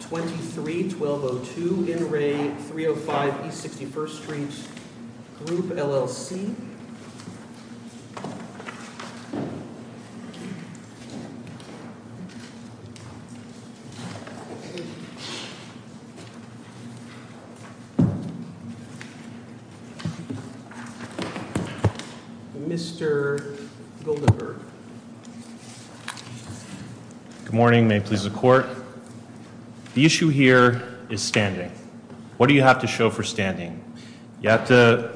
23 1202 in re 305 East 61st Street Group, LLC. Mr. Goldenberg. Good morning. May it please the Court. The issue here is standing. What do you have to show for standing? You have to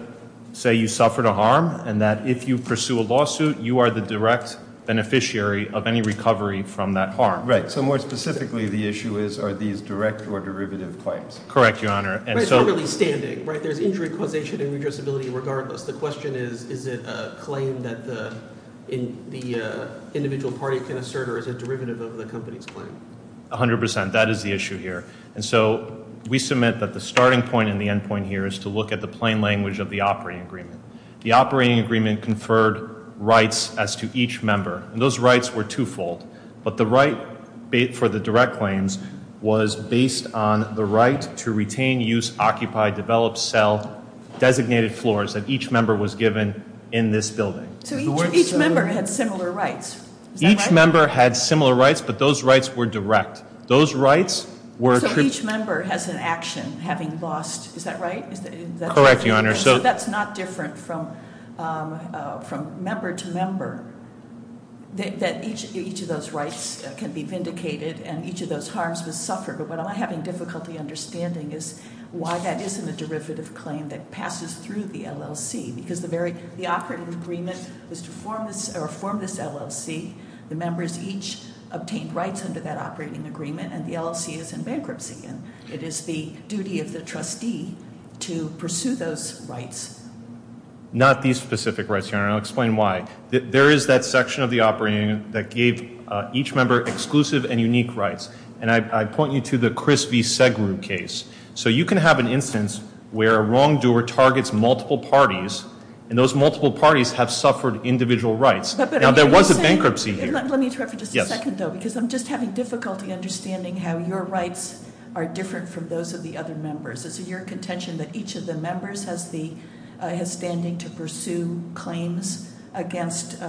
say you suffered a harm, and that if you pursue a lawsuit, you are the direct beneficiary of any recovery from that harm. Right. So more specifically, the issue is, are these direct or derivative claims? Correct, Your Honor. But it's not really standing, right? There's injury causation and redressability regardless. The question is, is it a claim that the individual party can assert, or is it a derivative of the company's claim? A hundred percent. That is the issue here. And so we submit that the starting point and the end point here is to look at the plain language of the operating agreement. The operating agreement conferred rights as to each member, and those rights were twofold. But the right for the direct claims was based on the right to retain, use, occupy, develop, sell designated floors that each member was given in this building. So each member had similar rights? Each member had similar rights, but those rights were direct. So each member has an action having lost, is that right? Correct, Your Honor. So that's not different from member to member, that each of those rights can be vindicated and each of those harms was suffered. But what I'm having difficulty understanding is why that isn't a derivative claim that passes through the LLC. Because the operating agreement was to form this LLC. The members each obtained rights under that operating agreement, and the LLC is in bankruptcy. It is the duty of the trustee to pursue those rights. Not these specific rights, Your Honor, and I'll explain why. There is that section of the operating agreement that gave each member exclusive and unique rights. And I point you to the Chris V. Segrue case. So you can have an instance where a wrongdoer targets multiple parties, and those multiple parties have suffered individual rights. Now, there was a bankruptcy here. Let me interrupt for just a second, though, because I'm just having difficulty understanding how your rights are different from those of the other members. Is it your contention that each of the members has standing to pursue claims against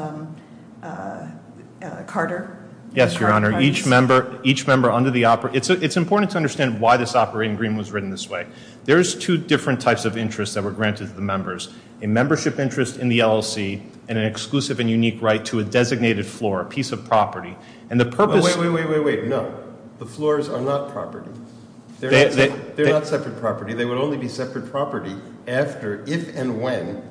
Carter? Yes, Your Honor. Each member under the operating, it's important to understand why this operating agreement was written this way. There's two different types of interests that were granted to the members. A membership interest in the LLC and an exclusive and unique right to a designated floor, a piece of property. And the purpose- Wait, wait, wait, wait, wait, no. The floors are not property. They're not separate property. They would only be separate property after, if and when,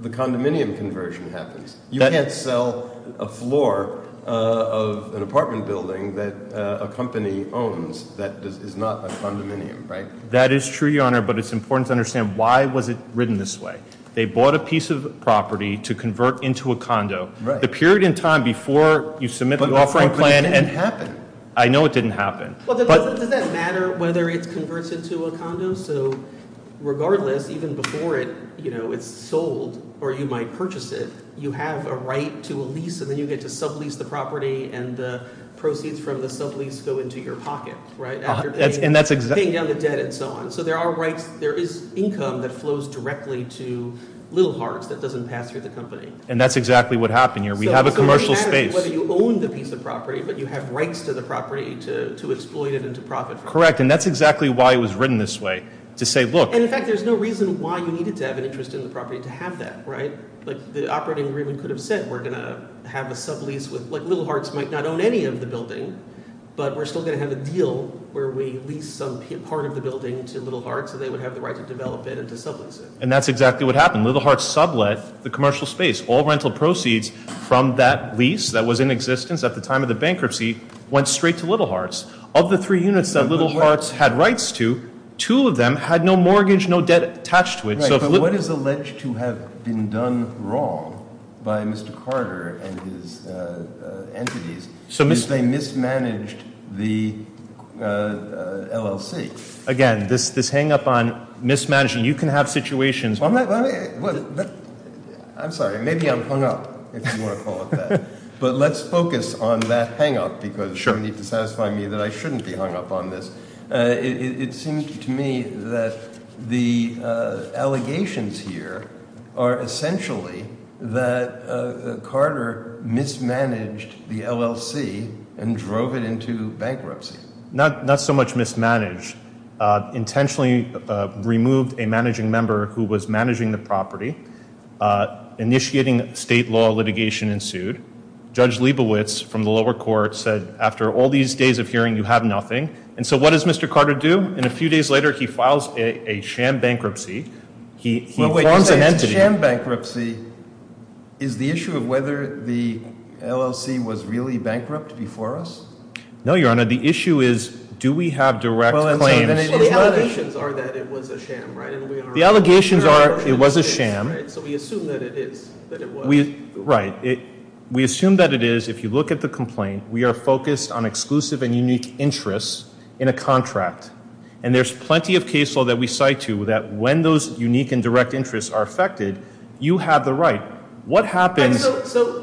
the condominium conversion happens. You can't sell a floor of an apartment building that a company owns that is not a condominium, right? That is true, Your Honor, but it's important to understand why was it written this way. They bought a piece of property to convert into a condo. The period in time before you submit the offering plan- But it didn't happen. I know it didn't happen. Well, does that matter whether it converts into a condo? So regardless, even before it's sold or you might purchase it, you have a right to a lease, and then you get to sublease the property, and the proceeds from the sublease go into your pocket, right? And that's exactly- Paying down the debt and so on. So there are rights. There is income that flows directly to Little Hearts that doesn't pass through the company. And that's exactly what happened here. We have a commercial space. So it doesn't matter whether you own the piece of property, but you have rights to the property to exploit it and to profit from it. Correct, and that's exactly why it was written this way, to say, look- And, in fact, there's no reason why you needed to have an interest in the property to have that, right? Like, the operating agreement could have said we're going to have a sublease with- Like, Little Hearts might not own any of the building, but we're still going to have a deal where we lease some part of the building to Little Hearts so they would have the right to develop it and to sublease it. And that's exactly what happened. Little Hearts sublet the commercial space. All rental proceeds from that lease that was in existence at the time of the bankruptcy went straight to Little Hearts. Of the three units that Little Hearts had rights to, two of them had no mortgage, no debt attached to it. Right, but what is alleged to have been done wrong by Mr. Carter and his entities is they mismanaged the LLC. Again, this hang-up on mismanaging, you can have situations- I'm sorry, maybe I'm hung up, if you want to call it that. But let's focus on that hang-up because you need to satisfy me that I shouldn't be hung up on this. It seems to me that the allegations here are essentially that Carter mismanaged the LLC and drove it into bankruptcy. Not so much mismanaged. Intentionally removed a managing member who was managing the property. Initiating state law litigation ensued. Judge Leibowitz from the lower court said, after all these days of hearing, you have nothing. And so what does Mr. Carter do? And a few days later, he files a sham bankruptcy. He forms an entity- Wait, sham bankruptcy is the issue of whether the LLC was really bankrupt before us? No, Your Honor, the issue is do we have direct claims- Well, the allegations are that it was a sham, right? The allegations are it was a sham. So we assume that it is, that it was. Right. We assume that it is. If you look at the complaint, we are focused on exclusive and unique interests in a contract. And there's plenty of case law that we cite to that when those unique and direct interests are affected, you have the right. What happens-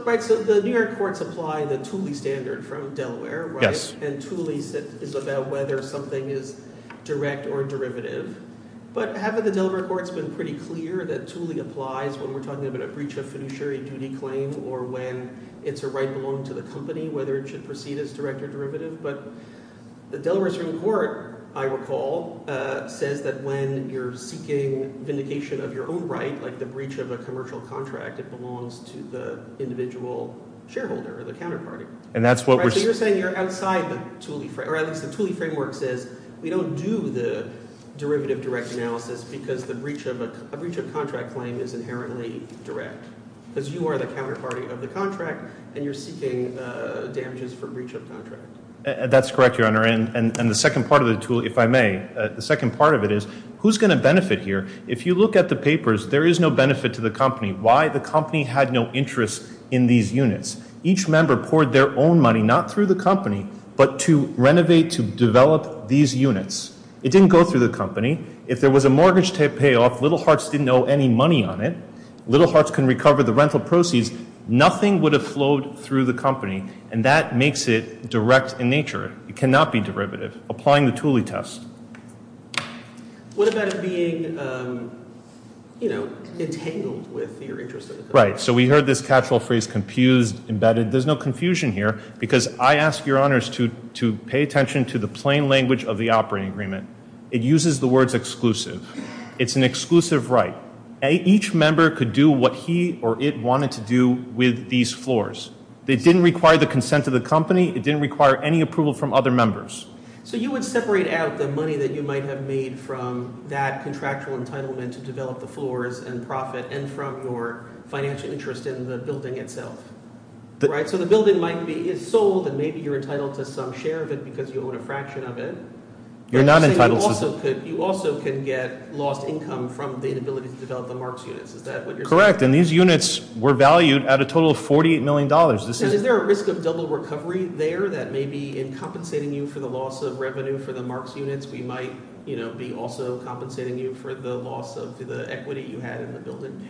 Right, so the New York courts apply the Thule standard from Delaware, right? Yes. And Thule is about whether something is direct or derivative. But haven't the Delaware courts been pretty clear that Thule applies when we're talking about a breach of fiduciary duty claim or when it's a right belonging to the company, whether it should proceed as direct or derivative? But the Delaware Supreme Court, I recall, says that when you're seeking vindication of your own right, like the breach of a commercial contract, it belongs to the individual shareholder or the counterparty. And that's what we're- Because the breach of a contract claim is inherently direct. Because you are the counterparty of the contract, and you're seeking damages for breach of contract. That's correct, Your Honor. And the second part of the Thule, if I may, the second part of it is, who's going to benefit here? If you look at the papers, there is no benefit to the company. Why? The company had no interest in these units. Each member poured their own money, not through the company, but to renovate, to develop these units. It didn't go through the company. If there was a mortgage to pay off, Little Hearts didn't owe any money on it. Little Hearts can recover the rental proceeds. Nothing would have flowed through the company. And that makes it direct in nature. It cannot be derivative. Applying the Thule test. What about it being, you know, entangled with your interest? Right. So we heard this catch-all phrase, confused, embedded. There's no confusion here because I ask Your Honors to pay attention to the plain language of the operating agreement. It uses the words exclusive. It's an exclusive right. Each member could do what he or it wanted to do with these floors. It didn't require the consent of the company. It didn't require any approval from other members. So you would separate out the money that you might have made from that contractual entitlement to develop the floors and profit and from your financial interest in the building itself. Right? So the building might be sold and maybe you're entitled to some share of it because you own a fraction of it. You're not entitled to. You also can get lost income from the inability to develop the Marks units. Is that what you're saying? Correct. And these units were valued at a total of $48 million. Is there a risk of double recovery there that may be in compensating you for the loss of revenue for the Marks units? We might be also compensating you for the loss of the equity you had in the building?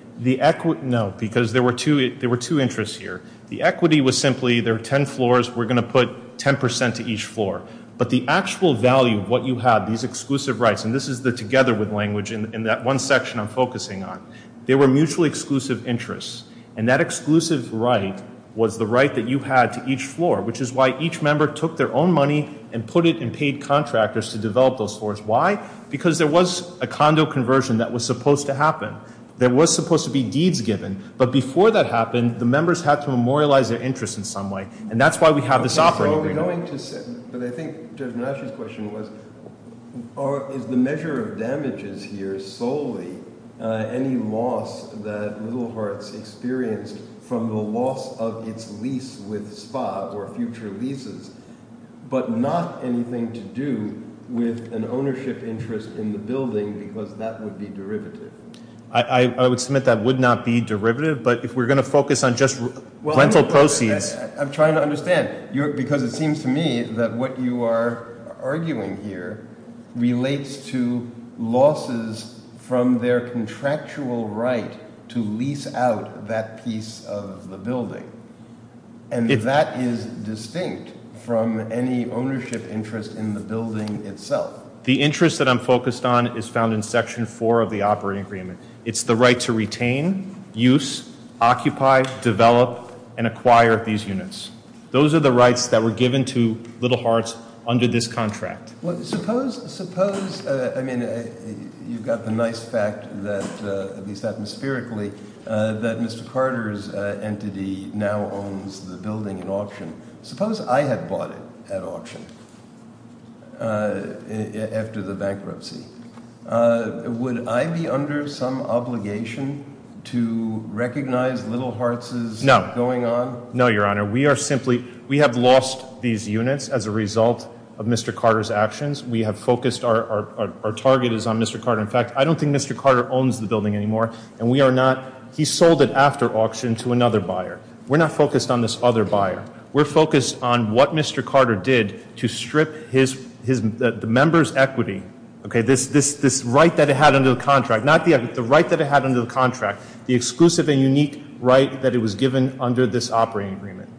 No, because there were two interests here. The equity was simply there were ten floors. We're going to put 10% to each floor. But the actual value of what you had, these exclusive rights, and this is the together with language in that one section I'm focusing on. They were mutually exclusive interests, and that exclusive right was the right that you had to each floor, which is why each member took their own money and put it in paid contractors to develop those floors. Why? Because there was a condo conversion that was supposed to happen. There was supposed to be deeds given. But before that happened, the members had to memorialize their interest in some way. And that's why we have this offering right now. But I think Judge Menasche's question was, is the measure of damages here solely any loss that Little Hearts experienced from the loss of its lease with SPA or future leases, but not anything to do with an ownership interest in the building because that would be derivative? I would submit that would not be derivative, but if we're going to focus on just rental proceeds- It seems to me that what you are arguing here relates to losses from their contractual right to lease out that piece of the building. And that is distinct from any ownership interest in the building itself. The interest that I'm focused on is found in Section 4 of the operating agreement. It's the right to retain, use, occupy, develop, and acquire these units. Those are the rights that were given to Little Hearts under this contract. Suppose, I mean, you've got the nice fact that, at least atmospherically, that Mr. Carter's entity now owns the building in auction. Suppose I had bought it at auction after the bankruptcy. Would I be under some obligation to recognize Little Hearts' going on? No, Your Honor. We are simply- We have lost these units as a result of Mr. Carter's actions. We have focused- Our target is on Mr. Carter. In fact, I don't think Mr. Carter owns the building anymore, and we are not- He sold it after auction to another buyer. We're not focused on this other buyer. We're focused on what Mr. Carter did to strip the member's equity, this right that it had under the contract- the exclusive and unique right that it was given under this operating agreement.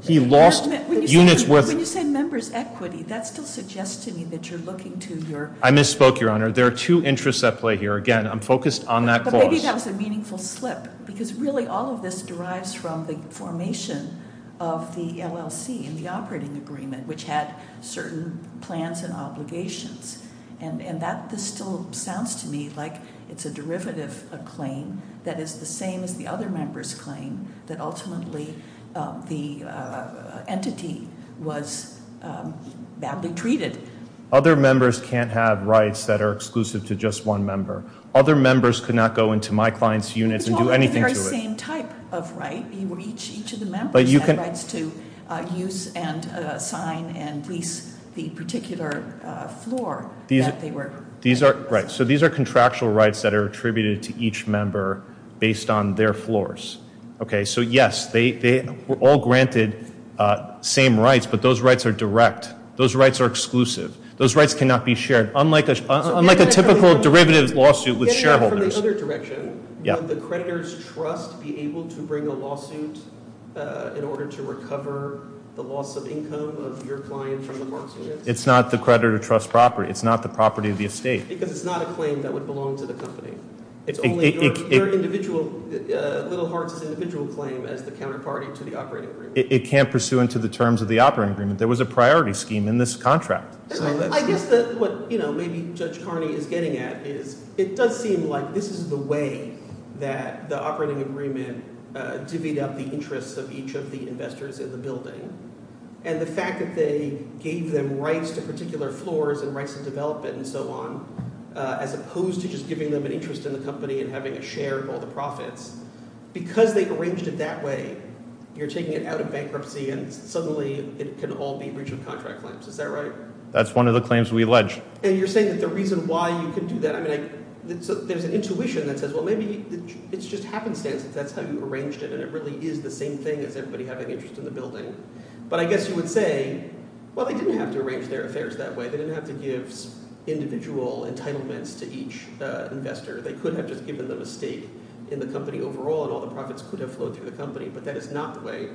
He lost units worth- When you say member's equity, that still suggests to me that you're looking to your- I misspoke, Your Honor. There are two interests at play here. Again, I'm focused on that clause. But maybe that was a meaningful slip, because really all of this derives from the formation of the LLC in the operating agreement, which had certain plans and obligations. And that still sounds to me like it's a derivative claim that is the same as the other member's claim that ultimately the entity was badly treated. Other members can't have rights that are exclusive to just one member. Other members could not go into my client's units and do anything to it. It's all the very same type of right. Each of the members had rights to use and sign and lease the particular floor that they were- Right. So these are contractual rights that are attributed to each member based on their floors. So yes, they were all granted same rights, but those rights are direct. Those rights are exclusive. Those rights cannot be shared, unlike a typical derivative lawsuit with shareholders. From the other direction, would the creditor's trust be able to bring a lawsuit in order to recover the loss of income of your client from the parks unit? It's not the creditor trust property. It's not the property of the estate. Because it's not a claim that would belong to the company. It's only your individual, Little Hearts' individual claim as the counterparty to the operating agreement. It can't pursue into the terms of the operating agreement. There was a priority scheme in this contract. I guess what maybe Judge Carney is getting at is it does seem like this is the way that the operating agreement divvied up the interests of each of the investors in the building. And the fact that they gave them rights to particular floors and rights of development and so on, as opposed to just giving them an interest in the company and having a share of all the profits. Because they arranged it that way, you're taking it out of bankruptcy and suddenly it can all be breach of contract claims. Is that right? That's one of the claims we allege. And you're saying that the reason why you can do that, I mean, there's an intuition that says, well, maybe it's just happenstance that that's how you arranged it. And it really is the same thing as everybody having interest in the building. But I guess you would say, well, they didn't have to arrange their affairs that way. They didn't have to give individual entitlements to each investor. They could have just given them a stake in the company overall and all the profits could have flowed through the company. But that is not the way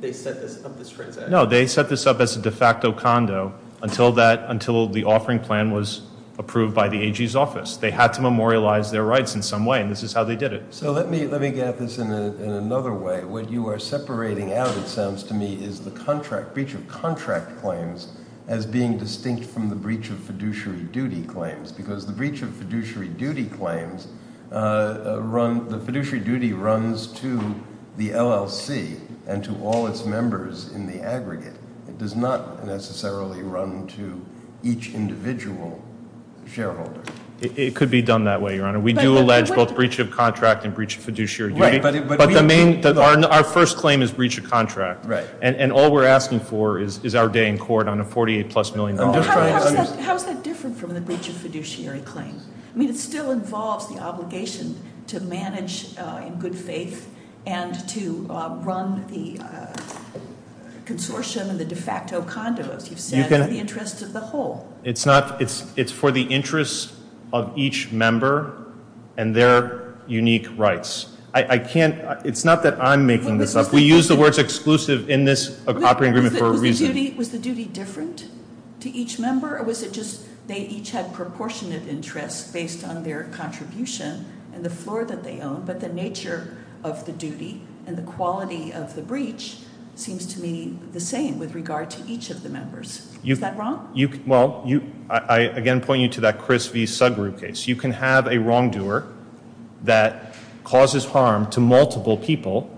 they set this up, this transaction. No, they set this up as a de facto condo until the offering plan was approved by the AG's office. They had to memorialize their rights in some way, and this is how they did it. So let me get at this in another way. What you are separating out, it sounds to me, is the contract, breach of contract claims as being distinct from the breach of fiduciary duty claims. Because the breach of fiduciary duty claims, the fiduciary duty runs to the LLC and to all its members in the aggregate. It does not necessarily run to each individual shareholder. It could be done that way, Your Honor. We do allege both breach of contract and breach of fiduciary duty. But our first claim is breach of contract. And all we're asking for is our day in court on a $48-plus million loan. How is that different from the breach of fiduciary claim? I mean, it still involves the obligation to manage in good faith and to run the consortium and the de facto condo, as you've said, for the interests of the whole. It's for the interests of each member and their unique rights. It's not that I'm making this up. We use the words exclusive in this operating agreement for a reason. Was the duty different to each member? Or was it just they each had proportionate interests based on their contribution and the floor that they own? But the nature of the duty and the quality of the breach seems to me the same with regard to each of the members. Is that wrong? Well, I again point you to that Chris V. Sugru case. You can have a wrongdoer that causes harm to multiple people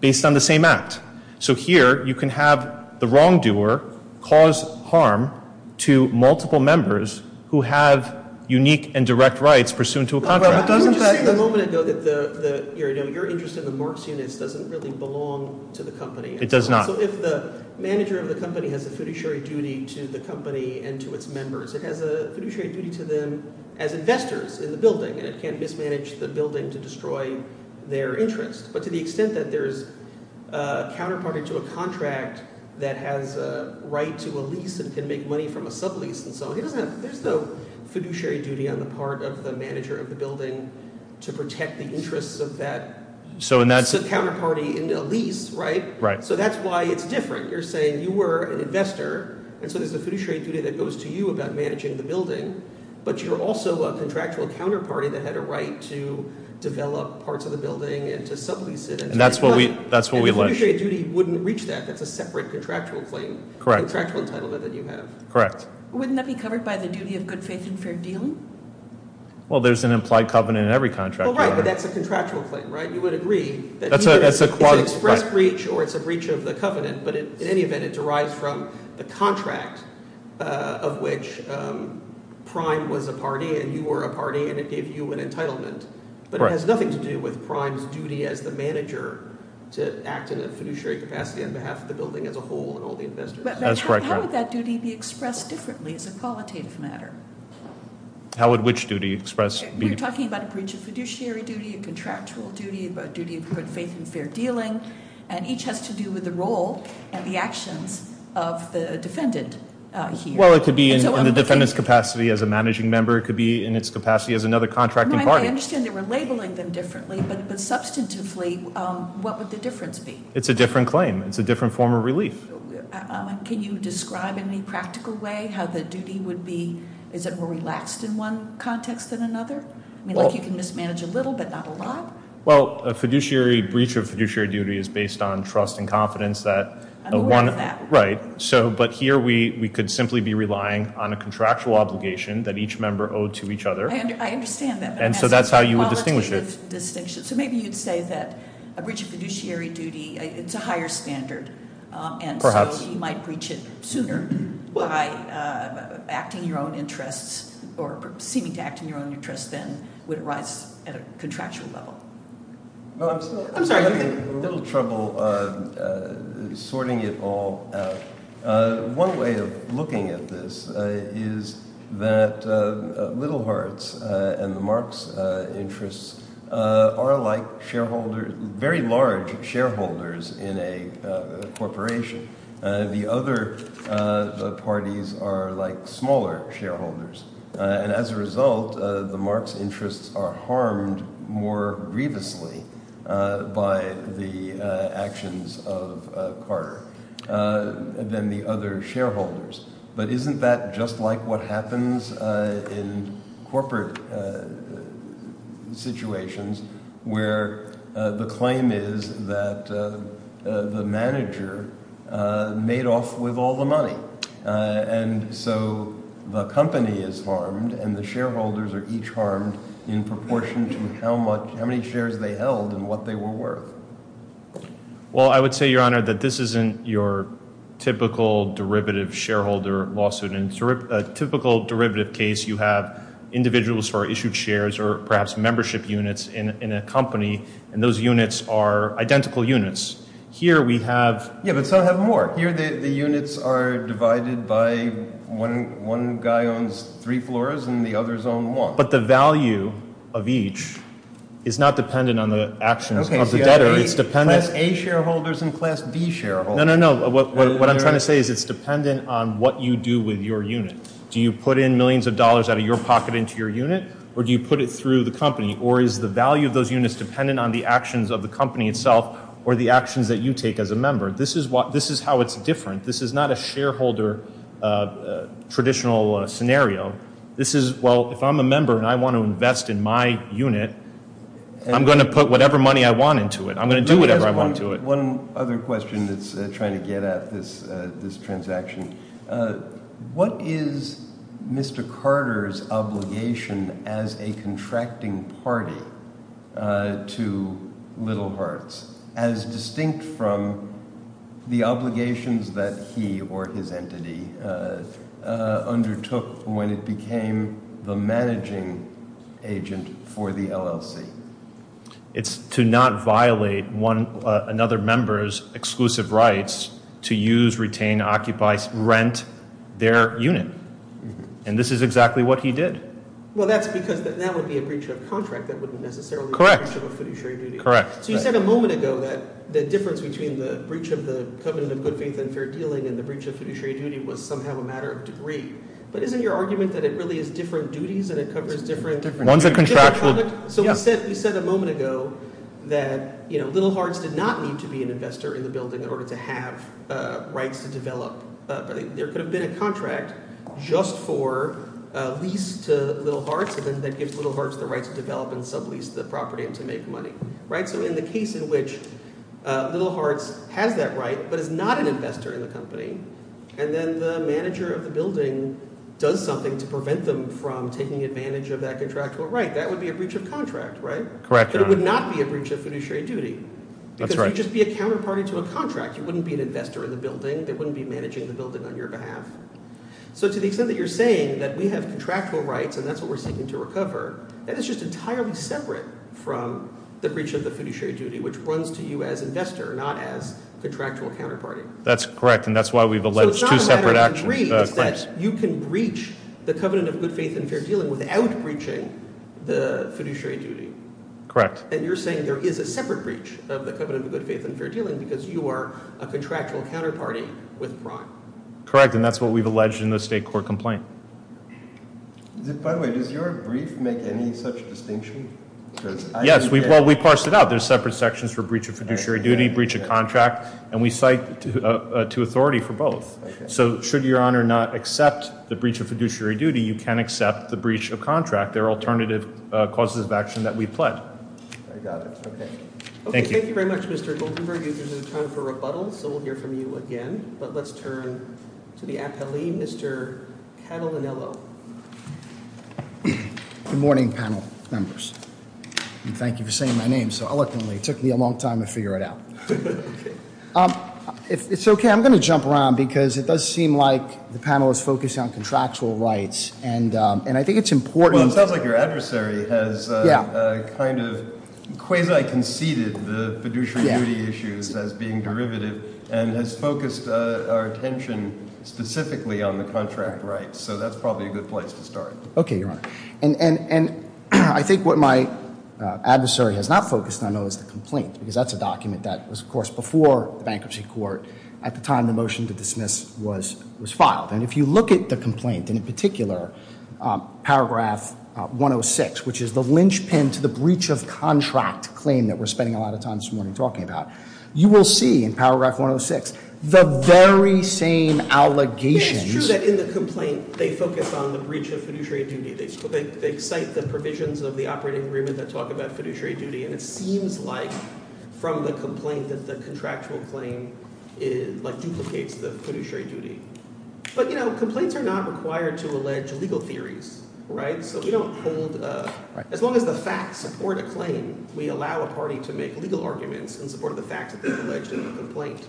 based on the same act. So here you can have the wrongdoer cause harm to multiple members who have unique and direct rights pursuant to a contract. I'm just saying a moment ago that your interest in the Marx units doesn't really belong to the company. It does not. So if the manager of the company has a fiduciary duty to the company and to its members, it has a fiduciary duty to them as investors in the building, and it can't mismanage the building to destroy their interest. But to the extent that there's a counterparty to a contract that has a right to a lease and can make money from a sublease and so on, there's no fiduciary duty on the part of the manager of the building to protect the interests of that counterparty in a lease, right? So that's why it's different. You're saying you were an investor, and so there's a fiduciary duty that goes to you about managing the building, but you're also a contractual counterparty that had a right to develop parts of the building and to sublease it and to make money. And the fiduciary duty wouldn't reach that. That's a separate contractual claim, contractual entitlement that you have. Correct. Wouldn't that be covered by the duty of good faith and fair dealing? Well, there's an implied covenant in every contract. Well, right, but that's a contractual claim, right? It's an express breach, or it's a breach of the covenant. But in any event, it derives from the contract of which Prime was a party and you were a party, and it gave you an entitlement. But it has nothing to do with Prime's duty as the manager to act in a fiduciary capacity on behalf of the building as a whole and all the investors. How would that duty be expressed differently as a qualitative matter? How would which duty expressed? We're talking about a breach of fiduciary duty, a contractual duty, a duty of good faith and fair dealing, and each has to do with the role and the actions of the defendant here. Well, it could be in the defendant's capacity as a managing member. It could be in its capacity as another contracting party. I understand they were labeling them differently, but substantively, what would the difference be? It's a different claim. It's a different form of relief. Can you describe in any practical way how the duty would be? Is it more relaxed in one context than another? I mean, like you can mismanage a little, but not a lot? Well, a fiduciary breach of fiduciary duty is based on trust and confidence that- I'm aware of that. Right. But here, we could simply be relying on a contractual obligation that each member owed to each other. I understand that. And so that's how you would distinguish it. So maybe you'd say that a breach of fiduciary duty, it's a higher standard. Perhaps. And so you might breach it sooner by acting your own interests or seeming to act in your own interests than would arise at a contractual level. I'm sorry. I'm still having a little trouble sorting it all out. One way of looking at this is that Little Hearts and the Marx interests are like shareholders, very large shareholders in a corporation. The other parties are like smaller shareholders. And as a result, the Marx interests are harmed more grievously by the actions of Carter than the other shareholders. But isn't that just like what happens in corporate situations where the claim is that the manager made off with all the money? And so the company is harmed and the shareholders are each harmed in proportion to how many shares they held and what they were worth. Well, I would say, Your Honor, that this isn't your typical derivative shareholder lawsuit. In a typical derivative case, you have individuals who are issued shares or perhaps membership units in a company, and those units are identical units. Here we have… Yeah, but some have more. Here the units are divided by one guy owns three floors and the others own one. But the value of each is not dependent on the actions of the debtor. Class A shareholders and Class B shareholders. No, no, no. What I'm trying to say is it's dependent on what you do with your unit. Do you put in millions of dollars out of your pocket into your unit or do you put it through the company? Or is the value of those units dependent on the actions of the company itself or the actions that you take as a member? This is how it's different. This is not a shareholder traditional scenario. This is, well, if I'm a member and I want to invest in my unit, I'm going to put whatever money I want into it. I'm going to do whatever I want to it. One other question that's trying to get at this transaction. What is Mr. Carter's obligation as a contracting party to Little Hearts as distinct from the obligations that he or his entity undertook when it became the managing agent for the LLC? It's to not violate another member's exclusive rights to use, retain, occupy, rent their unit. And this is exactly what he did. Well, that's because that would be a breach of contract. That wouldn't necessarily be a breach of a fiduciary duty. Correct. So you said a moment ago that the difference between the breach of the covenant of good faith and fair dealing and the breach of fiduciary duty was somehow a matter of degree. But isn't your argument that it really is different duties and it covers different conduct? So we said a moment ago that Little Hearts did not need to be an investor in the building in order to have rights to develop. There could have been a contract just for lease to Little Hearts that gives Little Hearts the right to develop and sublease the property and to make money. So in the case in which Little Hearts has that right but is not an investor in the company and then the manager of the building does something to prevent them from taking advantage of that contractual right, that would be a breach of contract, right? Correct, Your Honor. But it would not be a breach of fiduciary duty. That's right. Because you'd just be a counterparty to a contract. You wouldn't be an investor in the building. They wouldn't be managing the building on your behalf. So to the extent that you're saying that we have contractual rights and that's what we're seeking to recover, that is just entirely separate from the breach of the fiduciary duty, which runs to you as investor, not as contractual counterparty. That's correct, and that's why we've alleged two separate actions. You can breach the covenant of good faith and fair dealing without breaching the fiduciary duty. Correct. And you're saying there is a separate breach of the covenant of good faith and fair dealing because you are a contractual counterparty with Brock. Correct, and that's what we've alleged in the state court complaint. By the way, does your brief make any such distinction? Yes, well, we parsed it out. There's separate sections for breach of fiduciary duty, breach of contract, and we cite to authority for both. So should your Honor not accept the breach of fiduciary duty, you can accept the breach of contract. They're alternative causes of action that we pled. I got it. Okay. Thank you. Okay, thank you very much, Mr. Goldenberg. This is a time for rebuttal, so we'll hear from you again, but let's turn to the appellee, Mr. Catalinello. Good morning, panel members, and thank you for saying my name so eloquently. It took me a long time to figure it out. It's okay. I'm going to jump around because it does seem like the panel is focused on contractual rights, and I think it's important. Well, it sounds like your adversary has kind of quasi-conceded the fiduciary duty issues as being derivative and has focused our attention specifically on the contract rights, so that's probably a good place to start. Okay, Your Honor. I think what my adversary has not focused on, though, is the complaint, because that's a document that was, of course, before the bankruptcy court at the time the motion to dismiss was filed. And if you look at the complaint, and in particular, paragraph 106, which is the linchpin to the breach of contract claim that we're spending a lot of time this morning talking about, you will see in paragraph 106 the very same allegations. I think it's true that in the complaint they focus on the breach of fiduciary duty. They cite the provisions of the operating agreement that talk about fiduciary duty, and it seems like from the complaint that the contractual claim duplicates the fiduciary duty. But complaints are not required to allege legal theories, right? So we don't hold – as long as the facts support a claim, we allow a party to make legal arguments in support of the facts that they've alleged in the complaint.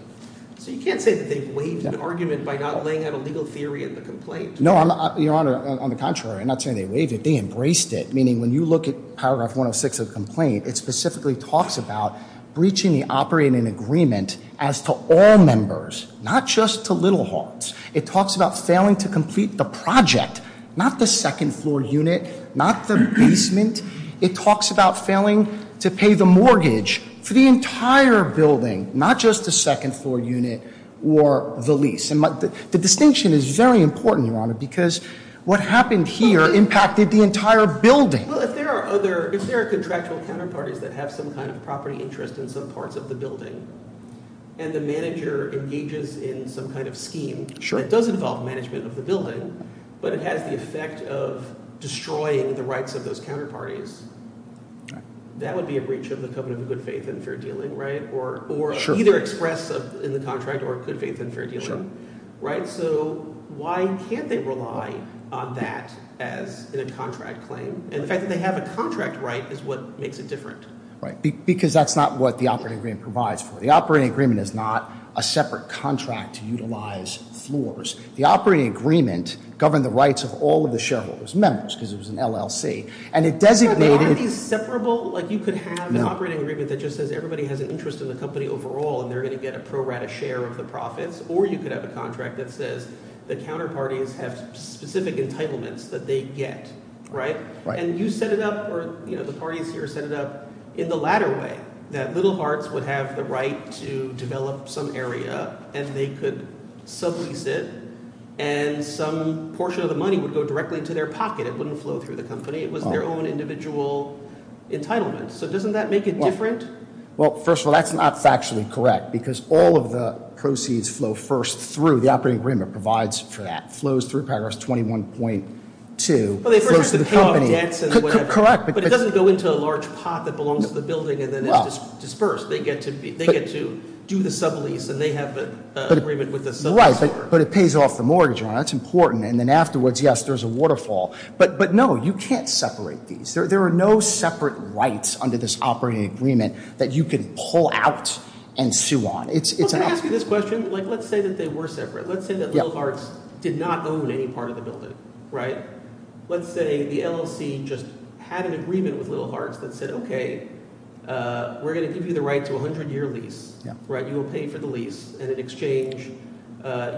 So you can't say that they've waived an argument by not laying out a legal theory in the complaint? No, Your Honor, on the contrary, I'm not saying they waived it. They embraced it, meaning when you look at paragraph 106 of the complaint, it specifically talks about breaching the operating agreement as to all members, not just to little hogs. It talks about failing to complete the project, not the second floor unit, not the basement. It talks about failing to pay the mortgage for the entire building, not just the second floor unit or the lease. And the distinction is very important, Your Honor, because what happened here impacted the entire building. Well, if there are other – if there are contractual counterparties that have some kind of property interest in some parts of the building and the manager engages in some kind of scheme that does involve management of the building, but it has the effect of destroying the rights of those counterparties, that would be a breach of the covenant of good faith and fair dealing, right? Sure. Or either express in the contract or good faith and fair dealing, right? Sure. So why can't they rely on that as in a contract claim? And the fact that they have a contract right is what makes it different. Right, because that's not what the operating agreement provides for. The operating agreement is not a separate contract to utilize floors. The operating agreement governed the rights of all of the shareholders, members, because it was an LLC. And it designated – But aren't these separable? Like you could have an operating agreement that just says everybody has an interest in the company overall and they're going to get a pro rata share of the profits, or you could have a contract that says the counterparties have specific entitlements that they get, right? Right. And you set it up or, you know, the parties here set it up in the latter way, that Little Hearts would have the right to develop some area and they could sublease it and some portion of the money would go directly into their pocket. It wouldn't flow through the company. It was their own individual entitlement. So doesn't that make it different? Well, first of all, that's not factually correct because all of the proceeds flow first through. The operating agreement provides for that. Flows through paragraph 21.2. Well, they first have to pay off debts and whatever. Correct. But it doesn't go into a large pot that belongs to the building and then it's dispersed. They get to do the sublease and they have an agreement with the sub store. Right, but it pays off the mortgage. That's important. And then afterwards, yes, there's a waterfall. But, no, you can't separate these. There are no separate rights under this operating agreement that you can pull out and sue on. Well, can I ask you this question? Like let's say that they were separate. Let's say that Little Hearts did not own any part of the building, right? Let's say the LLC just had an agreement with Little Hearts that said, okay, we're going to give you the right to a 100-year lease. You will pay for the lease. And in exchange,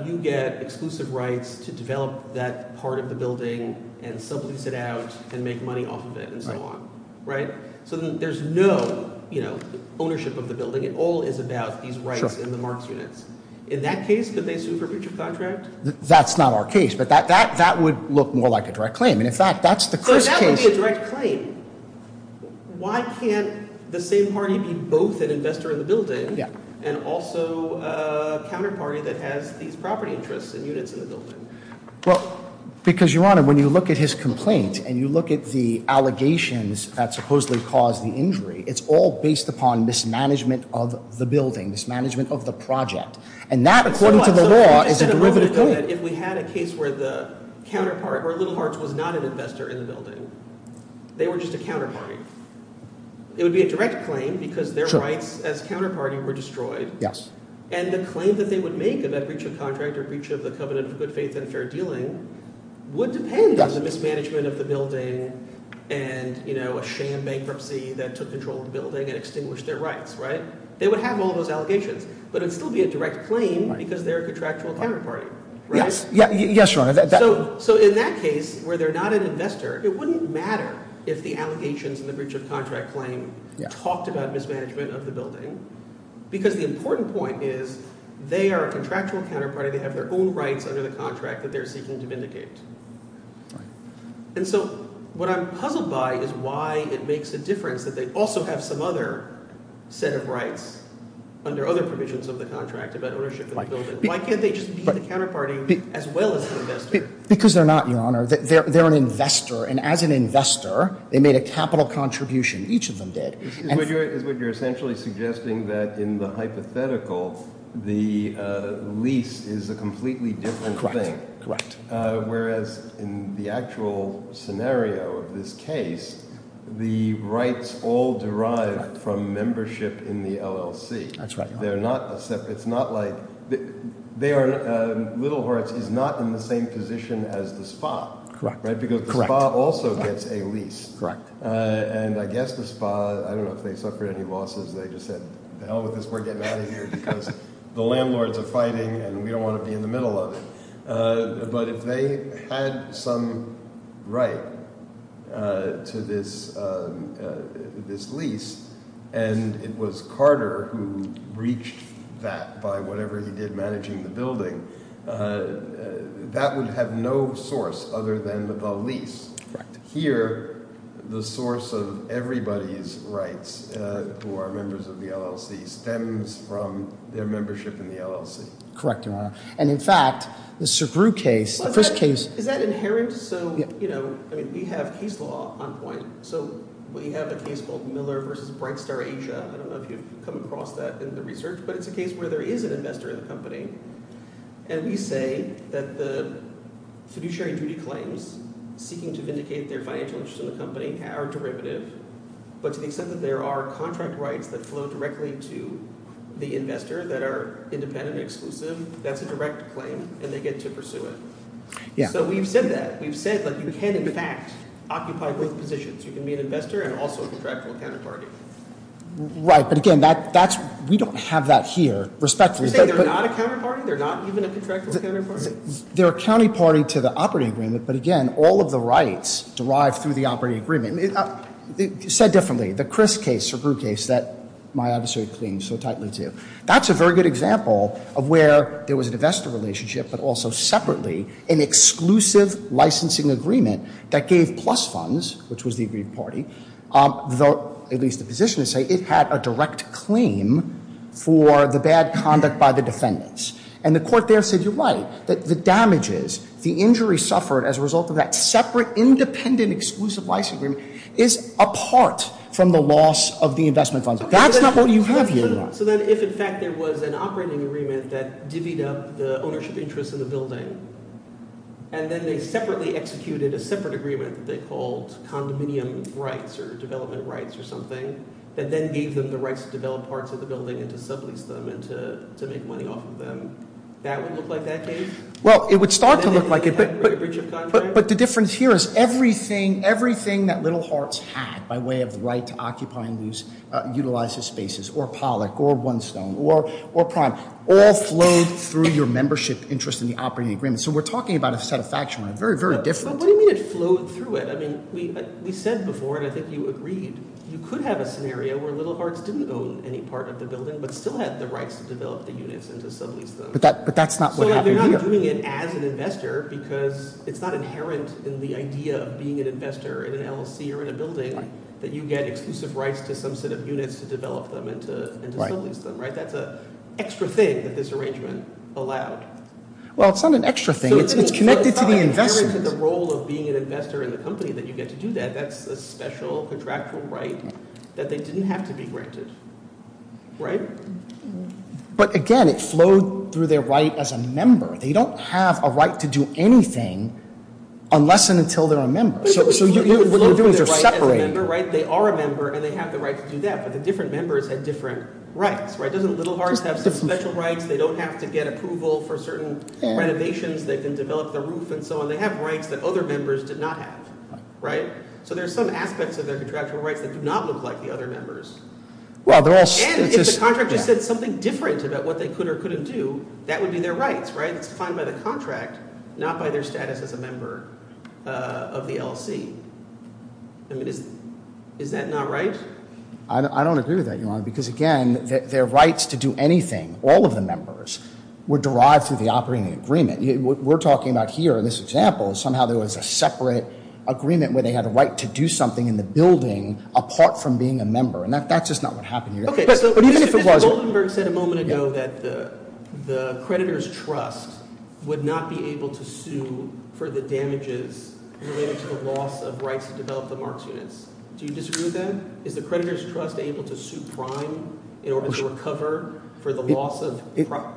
you get exclusive rights to develop that part of the building and sublease it out and make money off of it and so on. Right? So there's no ownership of the building. It all is about these rights and the marks units. In that case, could they sue for breach of contract? That's not our case. But that would look more like a direct claim. And, in fact, that's the case. So that would be a direct claim. Why can't the same party be both an investor in the building and also a counterparty that has these property interests and units in the building? Well, because, Your Honor, when you look at his complaint and you look at the allegations that supposedly caused the injury, it's all based upon mismanagement of the building, mismanagement of the project. And that, according to the law, is a derivative claim. If we had a case where the counterpart or Little Hearts was not an investor in the building, they were just a counterparty. It would be a direct claim because their rights as counterparty were destroyed. And the claim that they would make about breach of contract or breach of the covenant of good faith and fair dealing would depend on the mismanagement of the building and a sham bankruptcy that took control of the building and extinguished their rights. Right? They would have all those allegations. But it would still be a direct claim because they're a contractual counterparty. Right? Yes, Your Honor. So in that case where they're not an investor, it wouldn't matter if the allegations in the breach of contract claim talked about mismanagement of the building because the important point is they are a contractual counterparty. They have their own rights under the contract that they're seeking to vindicate. Right. And so what I'm puzzled by is why it makes a difference that they also have some other set of rights under other provisions of the contract about ownership of the building. Why can't they just be the counterparty as well as the investor? Because they're not, Your Honor. They're an investor. And as an investor, they made a capital contribution. Each of them did. It's what you're essentially suggesting that in the hypothetical, the lease is a completely different thing. Correct. Whereas in the actual scenario of this case, the rights all derive from membership in the LLC. That's right, Your Honor. They're not separate. It's not like they are – Little Hearts is not in the same position as the spa. Correct. Right? Because the spa also gets a lease. Correct. And I guess the spa – I don't know if they suffered any losses. They just said, the hell with this. We're getting out of here because the landlords are fighting and we don't want to be in the middle of it. But if they had some right to this lease and it was Carter who breached that by whatever he did managing the building, that would have no source other than the lease. Correct. Here, the source of everybody's rights who are members of the LLC stems from their membership in the LLC. Correct, Your Honor. And, in fact, the Sugru case, the first case – Is that inherent? So we have case law on point. So we have a case called Miller v. Bright Star Asia. I don't know if you've come across that in the research, but it's a case where there is an investor in the company. And we say that the fiduciary duty claims seeking to vindicate their financial interests in the company are derivative. But to the extent that there are contract rights that flow directly to the investor that are independent and exclusive, that's a direct claim and they get to pursue it. So we've said that. We've said that you can, in fact, occupy both positions. You can be an investor and also a contractual counterparty. Right. But, again, that's – we don't have that here, respectfully. You're saying they're not a counterparty? They're not even a contractual counterparty? They're a counterparty to the operating agreement, but, again, all of the rights derive through the operating agreement. Said differently, the Criss case, Sugru case that my observatory claims so tightly to, that's a very good example of where there was an investor relationship but also separately an exclusive licensing agreement that gave plus funds, which was the agreed party, at least the position to say it had a direct claim for the bad conduct by the defendants. And the court there said you're right. The damages, the injury suffered as a result of that separate independent exclusive licensing agreement is apart from the loss of the investment funds. That's not what you have here. So then if, in fact, there was an operating agreement that divvied up the ownership interests of the building and then they separately executed a separate agreement that they called condominium rights or development rights or something that then gave them the rights to develop parts of the building and to sublease them and to make money off of them, that would look like that case? Well, it would start to look like it, but the difference here is everything, everything that Little Hearts had by way of the right to occupy and utilize its spaces, or Pollock or One Stone or Prime, all flowed through your membership interest in the operating agreement. So we're talking about a set of factions, very, very different. But what do you mean it flowed through it? I mean, we said before, and I think you agreed, you could have a scenario where Little Hearts didn't own any part of the building but still had the rights to develop the units and to sublease them. But that's not what happened here. So they're not doing it as an investor because it's not inherent in the idea of being an investor in an LLC or in a building that you get exclusive rights to some set of units to develop them and to sublease them, right? That's an extra thing that this arrangement allowed. Well, it's not an extra thing. It's connected to the investment. So it's not inherent in the role of being an investor in the company that you get to do that. That's a special contractual right that they didn't have to be granted, right? But again, it flowed through their right as a member. They don't have a right to do anything unless and until they're a member. So what you're doing is you're separating. They are a member, and they have the right to do that, but the different members had different rights. Doesn't Little Hearts have some special rights? They don't have to get approval for certain renovations. They can develop the roof and so on. They have rights that other members did not have, right? So there are some aspects of their contractual rights that do not look like the other members. And if the contractor said something different about what they could or couldn't do, that would be their rights, right? It's defined by the contract, not by their status as a member of the LLC. I mean, is that not right? I don't agree with that, Your Honor, because, again, their rights to do anything, all of the members, were derived through the operating agreement. We're talking about here in this example. Somehow there was a separate agreement where they had a right to do something in the building apart from being a member, and that's just not what happened here. Mr. Goldenberg said a moment ago that the creditor's trust would not be able to sue for the damages related to the loss of rights to develop the Marks units. Do you disagree with that? Is the creditor's trust able to sue prime in order to recover for the loss of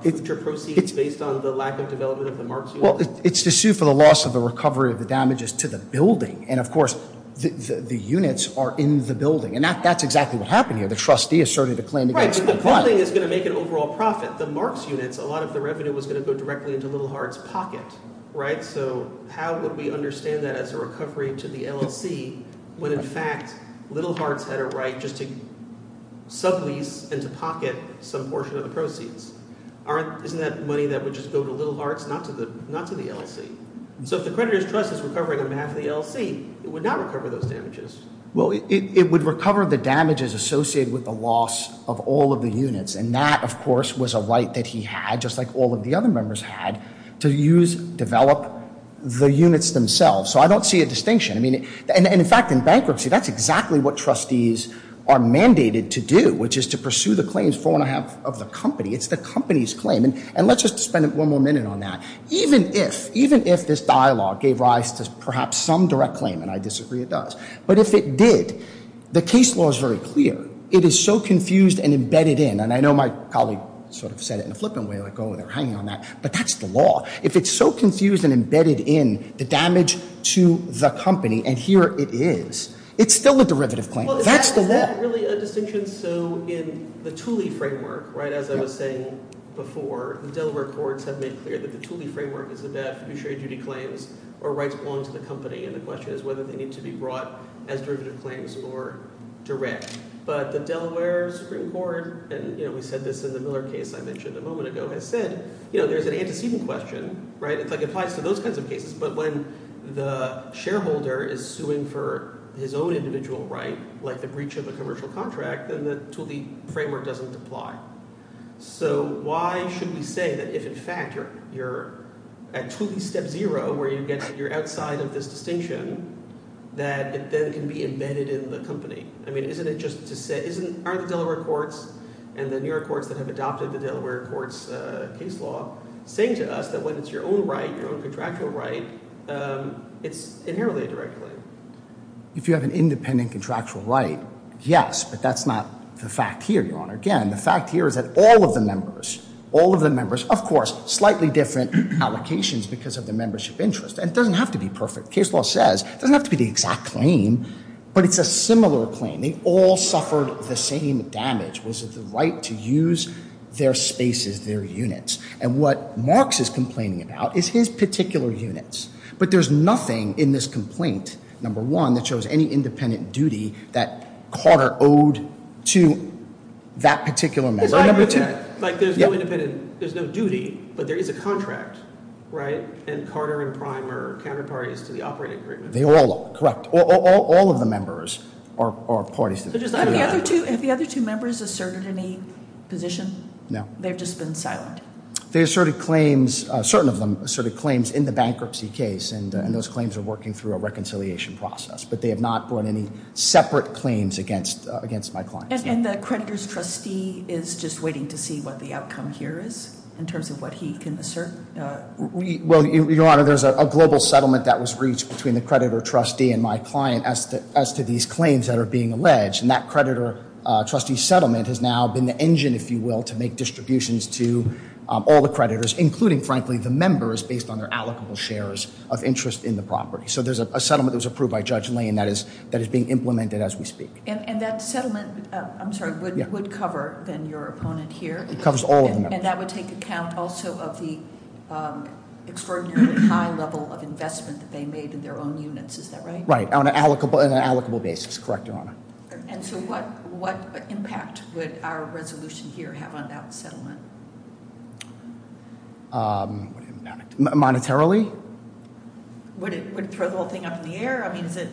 future proceeds based on the lack of development of the Marks units? Well, it's to sue for the loss of the recovery of the damages to the building. And, of course, the units are in the building. And that's exactly what happened here. The trustee asserted a claim against the client. Right, but the building is going to make an overall profit. The Marks units, a lot of the revenue was going to go directly into Little Hart's pocket, right? So how would we understand that as a recovery to the LLC when, in fact, Little Hart's had a right just to sublease and to pocket some portion of the proceeds? Isn't that money that would just go to Little Hart's, not to the LLC? So if the creditor's trust is recovering on behalf of the LLC, it would not recover those damages. Well, it would recover the damages associated with the loss of all of the units. And that, of course, was a right that he had, just like all of the other members had, to use, develop the units themselves. So I don't see a distinction. I mean, and, in fact, in bankruptcy, that's exactly what trustees are mandated to do, which is to pursue the claims four and a half of the company. It's the company's claim. And let's just spend one more minute on that. Even if, even if this dialogue gave rise to perhaps some direct claim, and I disagree it does, but if it did, the case law is very clear. It is so confused and embedded in. And I know my colleague sort of said it in a flippant way, like, oh, they're hanging on that. But that's the law. If it's so confused and embedded in the damage to the company, and here it is, it's still a derivative claim. That's the law. Is that really a distinction? So in the Thule framework, right, as I was saying before, the Delaware courts have made clear that the Thule framework is the deaf who share duty claims or rights belong to the company. And the question is whether they need to be brought as derivative claims or direct. But the Delaware Supreme Court, and we said this in the Miller case I mentioned a moment ago, has said there's an antecedent question. It applies to those kinds of cases. But when the shareholder is suing for his own individual right, like the breach of a commercial contract, then the Thule framework doesn't apply. So why should we say that if, in fact, you're at Thule step zero where you're outside of this distinction, that it then can be embedded in the company? I mean, aren't the Delaware courts and the New York courts that have adopted the Delaware courts case law saying to us that when it's your own right, your own contractual right, it's inherently a direct claim? If you have an independent contractual right, yes. But that's not the fact here, Your Honor. Again, the fact here is that all of the members, all of the members, of course, slightly different allocations because of the membership interest. And it doesn't have to be perfect. The case law says it doesn't have to be the exact claim, but it's a similar claim. They all suffered the same damage, was it the right to use their spaces, their units. And what Marx is complaining about is his particular units. But there's nothing in this complaint, number one, that shows any independent duty that Carter owed to that particular member. There's no duty, but there is a contract, right? And Carter and Prime are counterparties to the operating agreement. They all are, correct. All of the members are parties to the agreement. Have the other two members asserted any position? No. They've just been silent. They asserted claims, certain of them asserted claims in the bankruptcy case. And those claims are working through a reconciliation process. But they have not brought any separate claims against my clients. And the creditor's trustee is just waiting to see what the outcome here is in terms of what he can assert? Well, Your Honor, there's a global settlement that was reached between the creditor trustee and my client as to these claims that are being alleged. And that creditor trustee settlement has now been the engine, if you will, to make distributions to all the creditors, including, frankly, the members based on their allocable shares of interest in the property. So there's a settlement that was approved by Judge Lane that is being implemented as we speak. And that settlement, I'm sorry, would cover then your opponent here? It covers all of them. And that would take account also of the extraordinarily high level of investment that they made in their own units. Is that right? Right. On an allocable basis. Correct, Your Honor. And so what impact would our resolution here have on that settlement? Monetarily? Would it throw the whole thing up in the air? I mean, is it?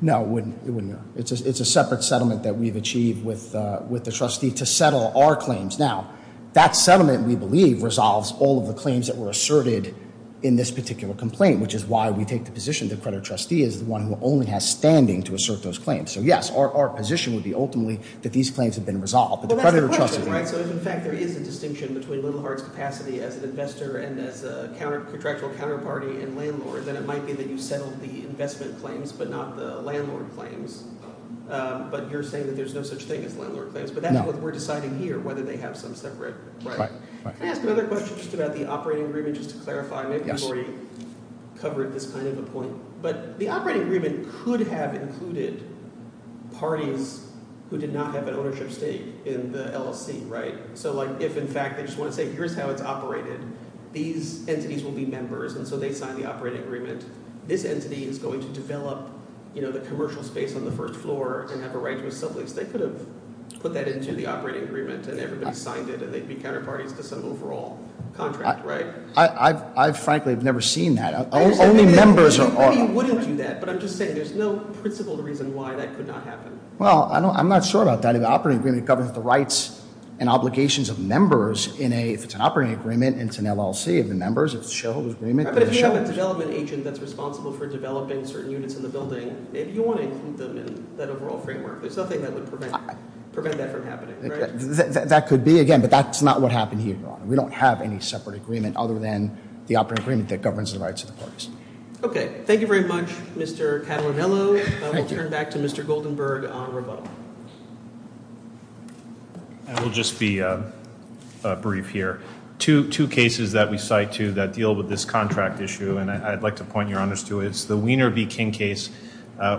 No, it wouldn't. It's a separate settlement that we've achieved with the trustee to settle our claims. Now, that settlement, we believe, resolves all of the claims that were asserted in this particular complaint, which is why we take the position the creditor trustee is the one who only has standing to assert those claims. So, yes, our position would be ultimately that these claims have been resolved. Well, that's the question, right? So if, in fact, there is a distinction between Littlehart's capacity as an investor and as a contractual counterparty and landlord, then it might be that you settled the investment claims but not the landlord claims. But you're saying that there's no such thing as landlord claims. But that's what we're deciding here, whether they have some separate right. Can I ask another question just about the operating agreement, just to clarify? Maybe we've already covered this kind of a point. But the operating agreement could have included parties who did not have an ownership stake in the LLC, right? So, like, if, in fact, they just want to say here's how it's operated, these entities will be members. And so they sign the operating agreement. This entity is going to develop, you know, the commercial space on the first floor and have a right to a sublease. They could have put that into the operating agreement, and everybody signed it, and they'd be counterparties to some overall contract, right? I, frankly, have never seen that. Only members. I mean, you wouldn't do that. But I'm just saying there's no principled reason why that could not happen. Well, I'm not sure about that. In the operating agreement, it governs the rights and obligations of members. If it's an operating agreement and it's an LLC, it's the members. If it's a shareholder's agreement, it's the shareholders. But if you have a development agent that's responsible for developing certain units in the building, maybe you want to include them in that overall framework. There's nothing that would prevent that from happening, right? That could be, again. But that's not what happened here, Your Honor. We don't have any separate agreement other than the operating agreement that governs the rights of the parties. Okay. Thank you very much, Mr. Catalanello. We'll turn back to Mr. Goldenberg on rebuttal. I will just be brief here. Two cases that we cite to that deal with this contract issue, and I'd like to point your honors to it. It's the Wiener v. King case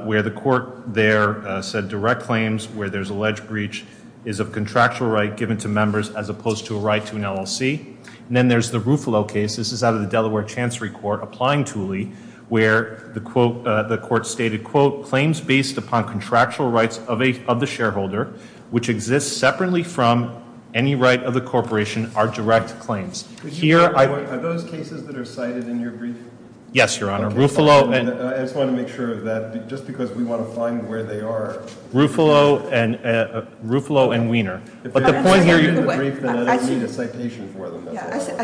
where the court there said direct claims, where there's alleged breach is of contractual right given to members as opposed to a right to an LLC. And then there's the Ruffalo case. This is out of the Delaware Chancery Court, applying Thule, where the court stated, quote, claims based upon contractual rights of the shareholder, which exists separately from any right of the corporation are direct claims. Are those cases that are cited in your brief? Yes, Your Honor. Ruffalo and- I just want to make sure of that, just because we want to find where they are. Ruffalo and Wiener. But the point here- I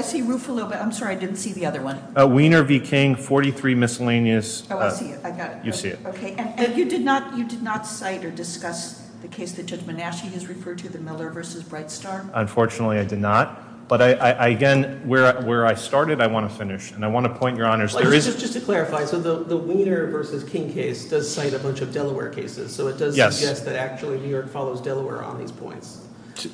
see Ruffalo, but I'm sorry, I didn't see the other one. Wiener v. King, 43 miscellaneous- Oh, I see it, I got it. You see it. Okay, and you did not cite or discuss the case that Judge Manasci has referred to, the Miller v. Brightstar? Unfortunately, I did not. But again, where I started, I want to finish. And I want to point your honors- Just to clarify, so the Wiener v. King case does cite a bunch of Delaware cases. So it does suggest that actually New York follows Delaware on these points.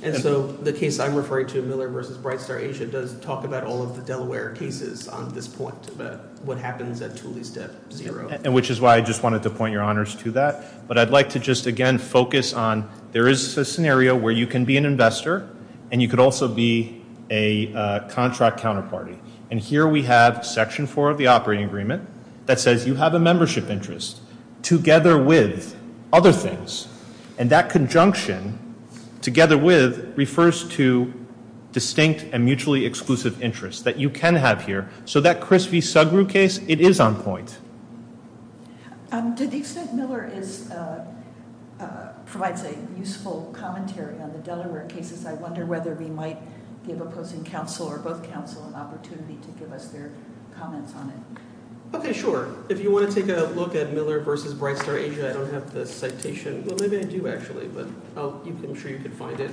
And so the case I'm referring to, Miller v. Brightstar Asia, does talk about all of the Delaware cases on this point. But what happens at Thule is at zero. And which is why I just wanted to point your honors to that. But I'd like to just, again, focus on there is a scenario where you can be an investor and you could also be a contract counterparty. And here we have Section 4 of the operating agreement that says you have a membership interest together with other things. And that conjunction, together with, refers to distinct and mutually exclusive interests that you can have here. So that Chris v. Sugrue case, it is on point. To the extent Miller provides a useful commentary on the Delaware cases, I wonder whether we might give opposing counsel or both counsel an opportunity to give us their comments on it. Okay, sure. If you want to take a look at Miller v. Brightstar Asia, I don't have the citation. Well, maybe I do actually, but I'm sure you can find it.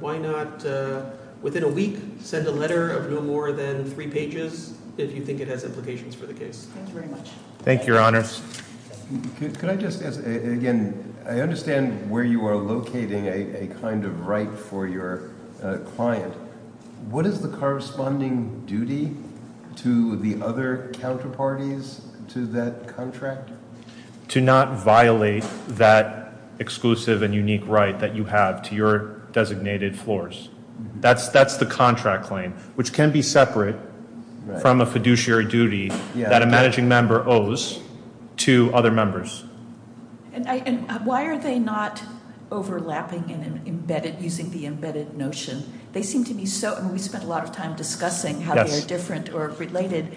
Why not, within a week, send a letter of no more than three pages if you think it has implications for the case. Thank you very much. Thank you, your honors. Could I just ask, again, I understand where you are locating a kind of right for your client. What is the corresponding duty to the other counterparties to that contract? To not violate that exclusive and unique right that you have to your designated floors. That's the contract claim, which can be separate from a fiduciary duty that a managing member owes to other members. And why are they not overlapping and using the embedded notion? They seem to be so, and we spent a lot of time discussing how they are different or related.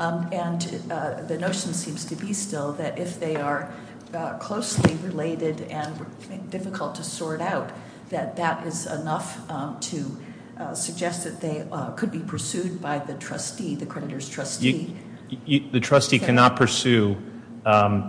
And the notion seems to be still that if they are closely related and difficult to sort out, that that is enough to suggest that they could be pursued by the trustee, the creditor's trustee. The trustee cannot pursue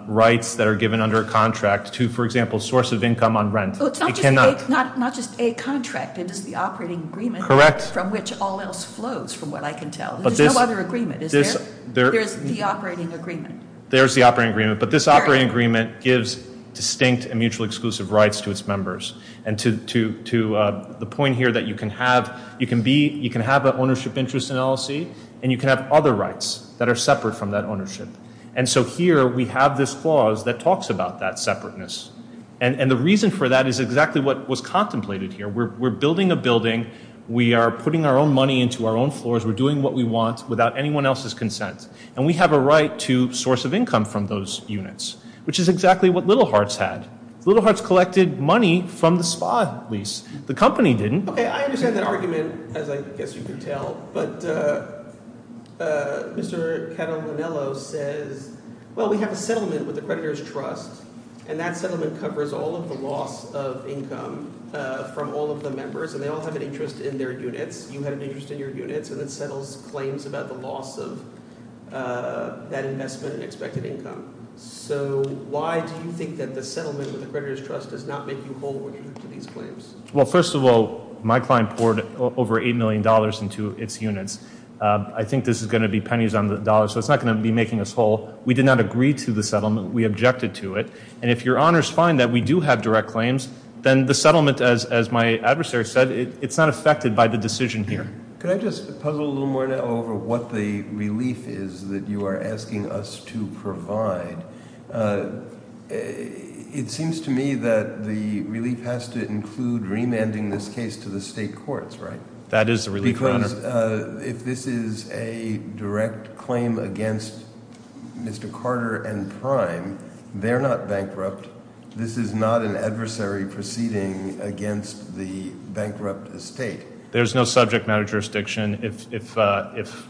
rights that are given under a contract to, for example, source of income on rent. It cannot. Not just a contract, it is the operating agreement. Correct. From which all else flows, from what I can tell. There's no other agreement, is there? There's the operating agreement. There's the operating agreement, but this operating agreement gives distinct and mutually exclusive rights to its members. And to the point here that you can have an ownership interest in LLC, and you can have other rights that are separate from that ownership. And so here we have this clause that talks about that separateness. And the reason for that is exactly what was contemplated here. We're building a building. We are putting our own money into our own floors. We're doing what we want without anyone else's consent. And we have a right to source of income from those units, which is exactly what Little Hearts had. Little Hearts collected money from the spa lease. The company didn't. Okay, I understand that argument, as I guess you can tell. But Mr. Catalanello says, well, we have a settlement with the creditor's trust, and that settlement covers all of the loss of income from all of the members. And they all have an interest in their units. You have an interest in your units, and it settles claims about the loss of that investment and expected income. So why do you think that the settlement with the creditor's trust does not make you whole with these claims? Well, first of all, my client poured over $8 million into its units. I think this is going to be pennies on the dollar, so it's not going to be making us whole. We did not agree to the settlement. We objected to it. And if your honors find that we do have direct claims, then the settlement, as my adversary said, it's not affected by the decision here. Could I just puzzle a little more now over what the relief is that you are asking us to provide? It seems to me that the relief has to include remanding this case to the state courts, right? If this is a direct claim against Mr. Carter and Prime, they're not bankrupt. This is not an adversary proceeding against the bankrupt estate. There's no subject matter jurisdiction. If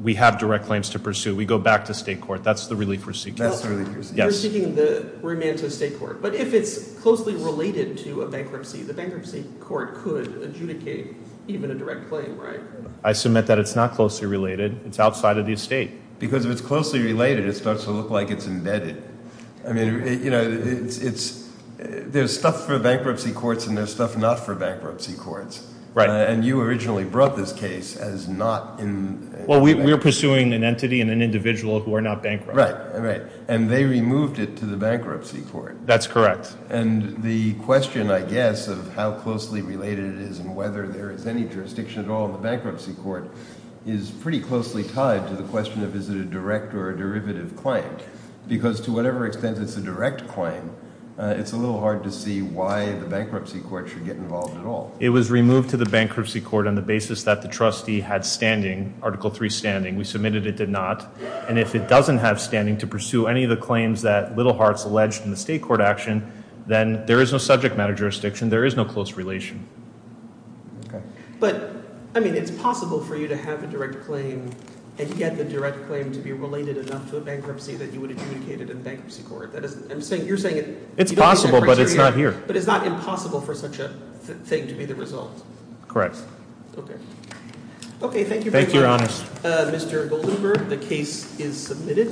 we have direct claims to pursue, we go back to state court. That's the relief we're seeking. That's the relief we're seeking. We're seeking the remand to the state court. But if it's closely related to a bankruptcy, the bankruptcy court could adjudicate even a direct claim, right? I submit that it's not closely related. It's outside of the estate. Because if it's closely related, it starts to look like it's embedded. I mean, you know, there's stuff for bankruptcy courts and there's stuff not for bankruptcy courts. Right. And you originally brought this case as not in bankruptcy. Well, we were pursuing an entity and an individual who are not bankrupt. Right, right. And they removed it to the bankruptcy court. That's correct. And the question, I guess, of how closely related it is and whether there is any jurisdiction at all in the bankruptcy court is pretty closely tied to the question of is it a direct or a derivative claim. Because to whatever extent it's a direct claim, it's a little hard to see why the bankruptcy court should get involved at all. It was removed to the bankruptcy court on the basis that the trustee had standing, Article III standing. We submitted it did not. And if it doesn't have standing to pursue any of the claims that Littlehart's alleged in the state court action, then there is no subject matter jurisdiction. There is no close relation. Okay. But, I mean, it's possible for you to have a direct claim and get the direct claim to be related enough to a bankruptcy that you would have communicated in the bankruptcy court. That is, I'm saying, you're saying it. It's possible, but it's not here. But it's not impossible for such a thing to be the result. Okay. Okay, thank you very much. Thank you, Your Honors. Mr. Goldenberg, the case is submitted.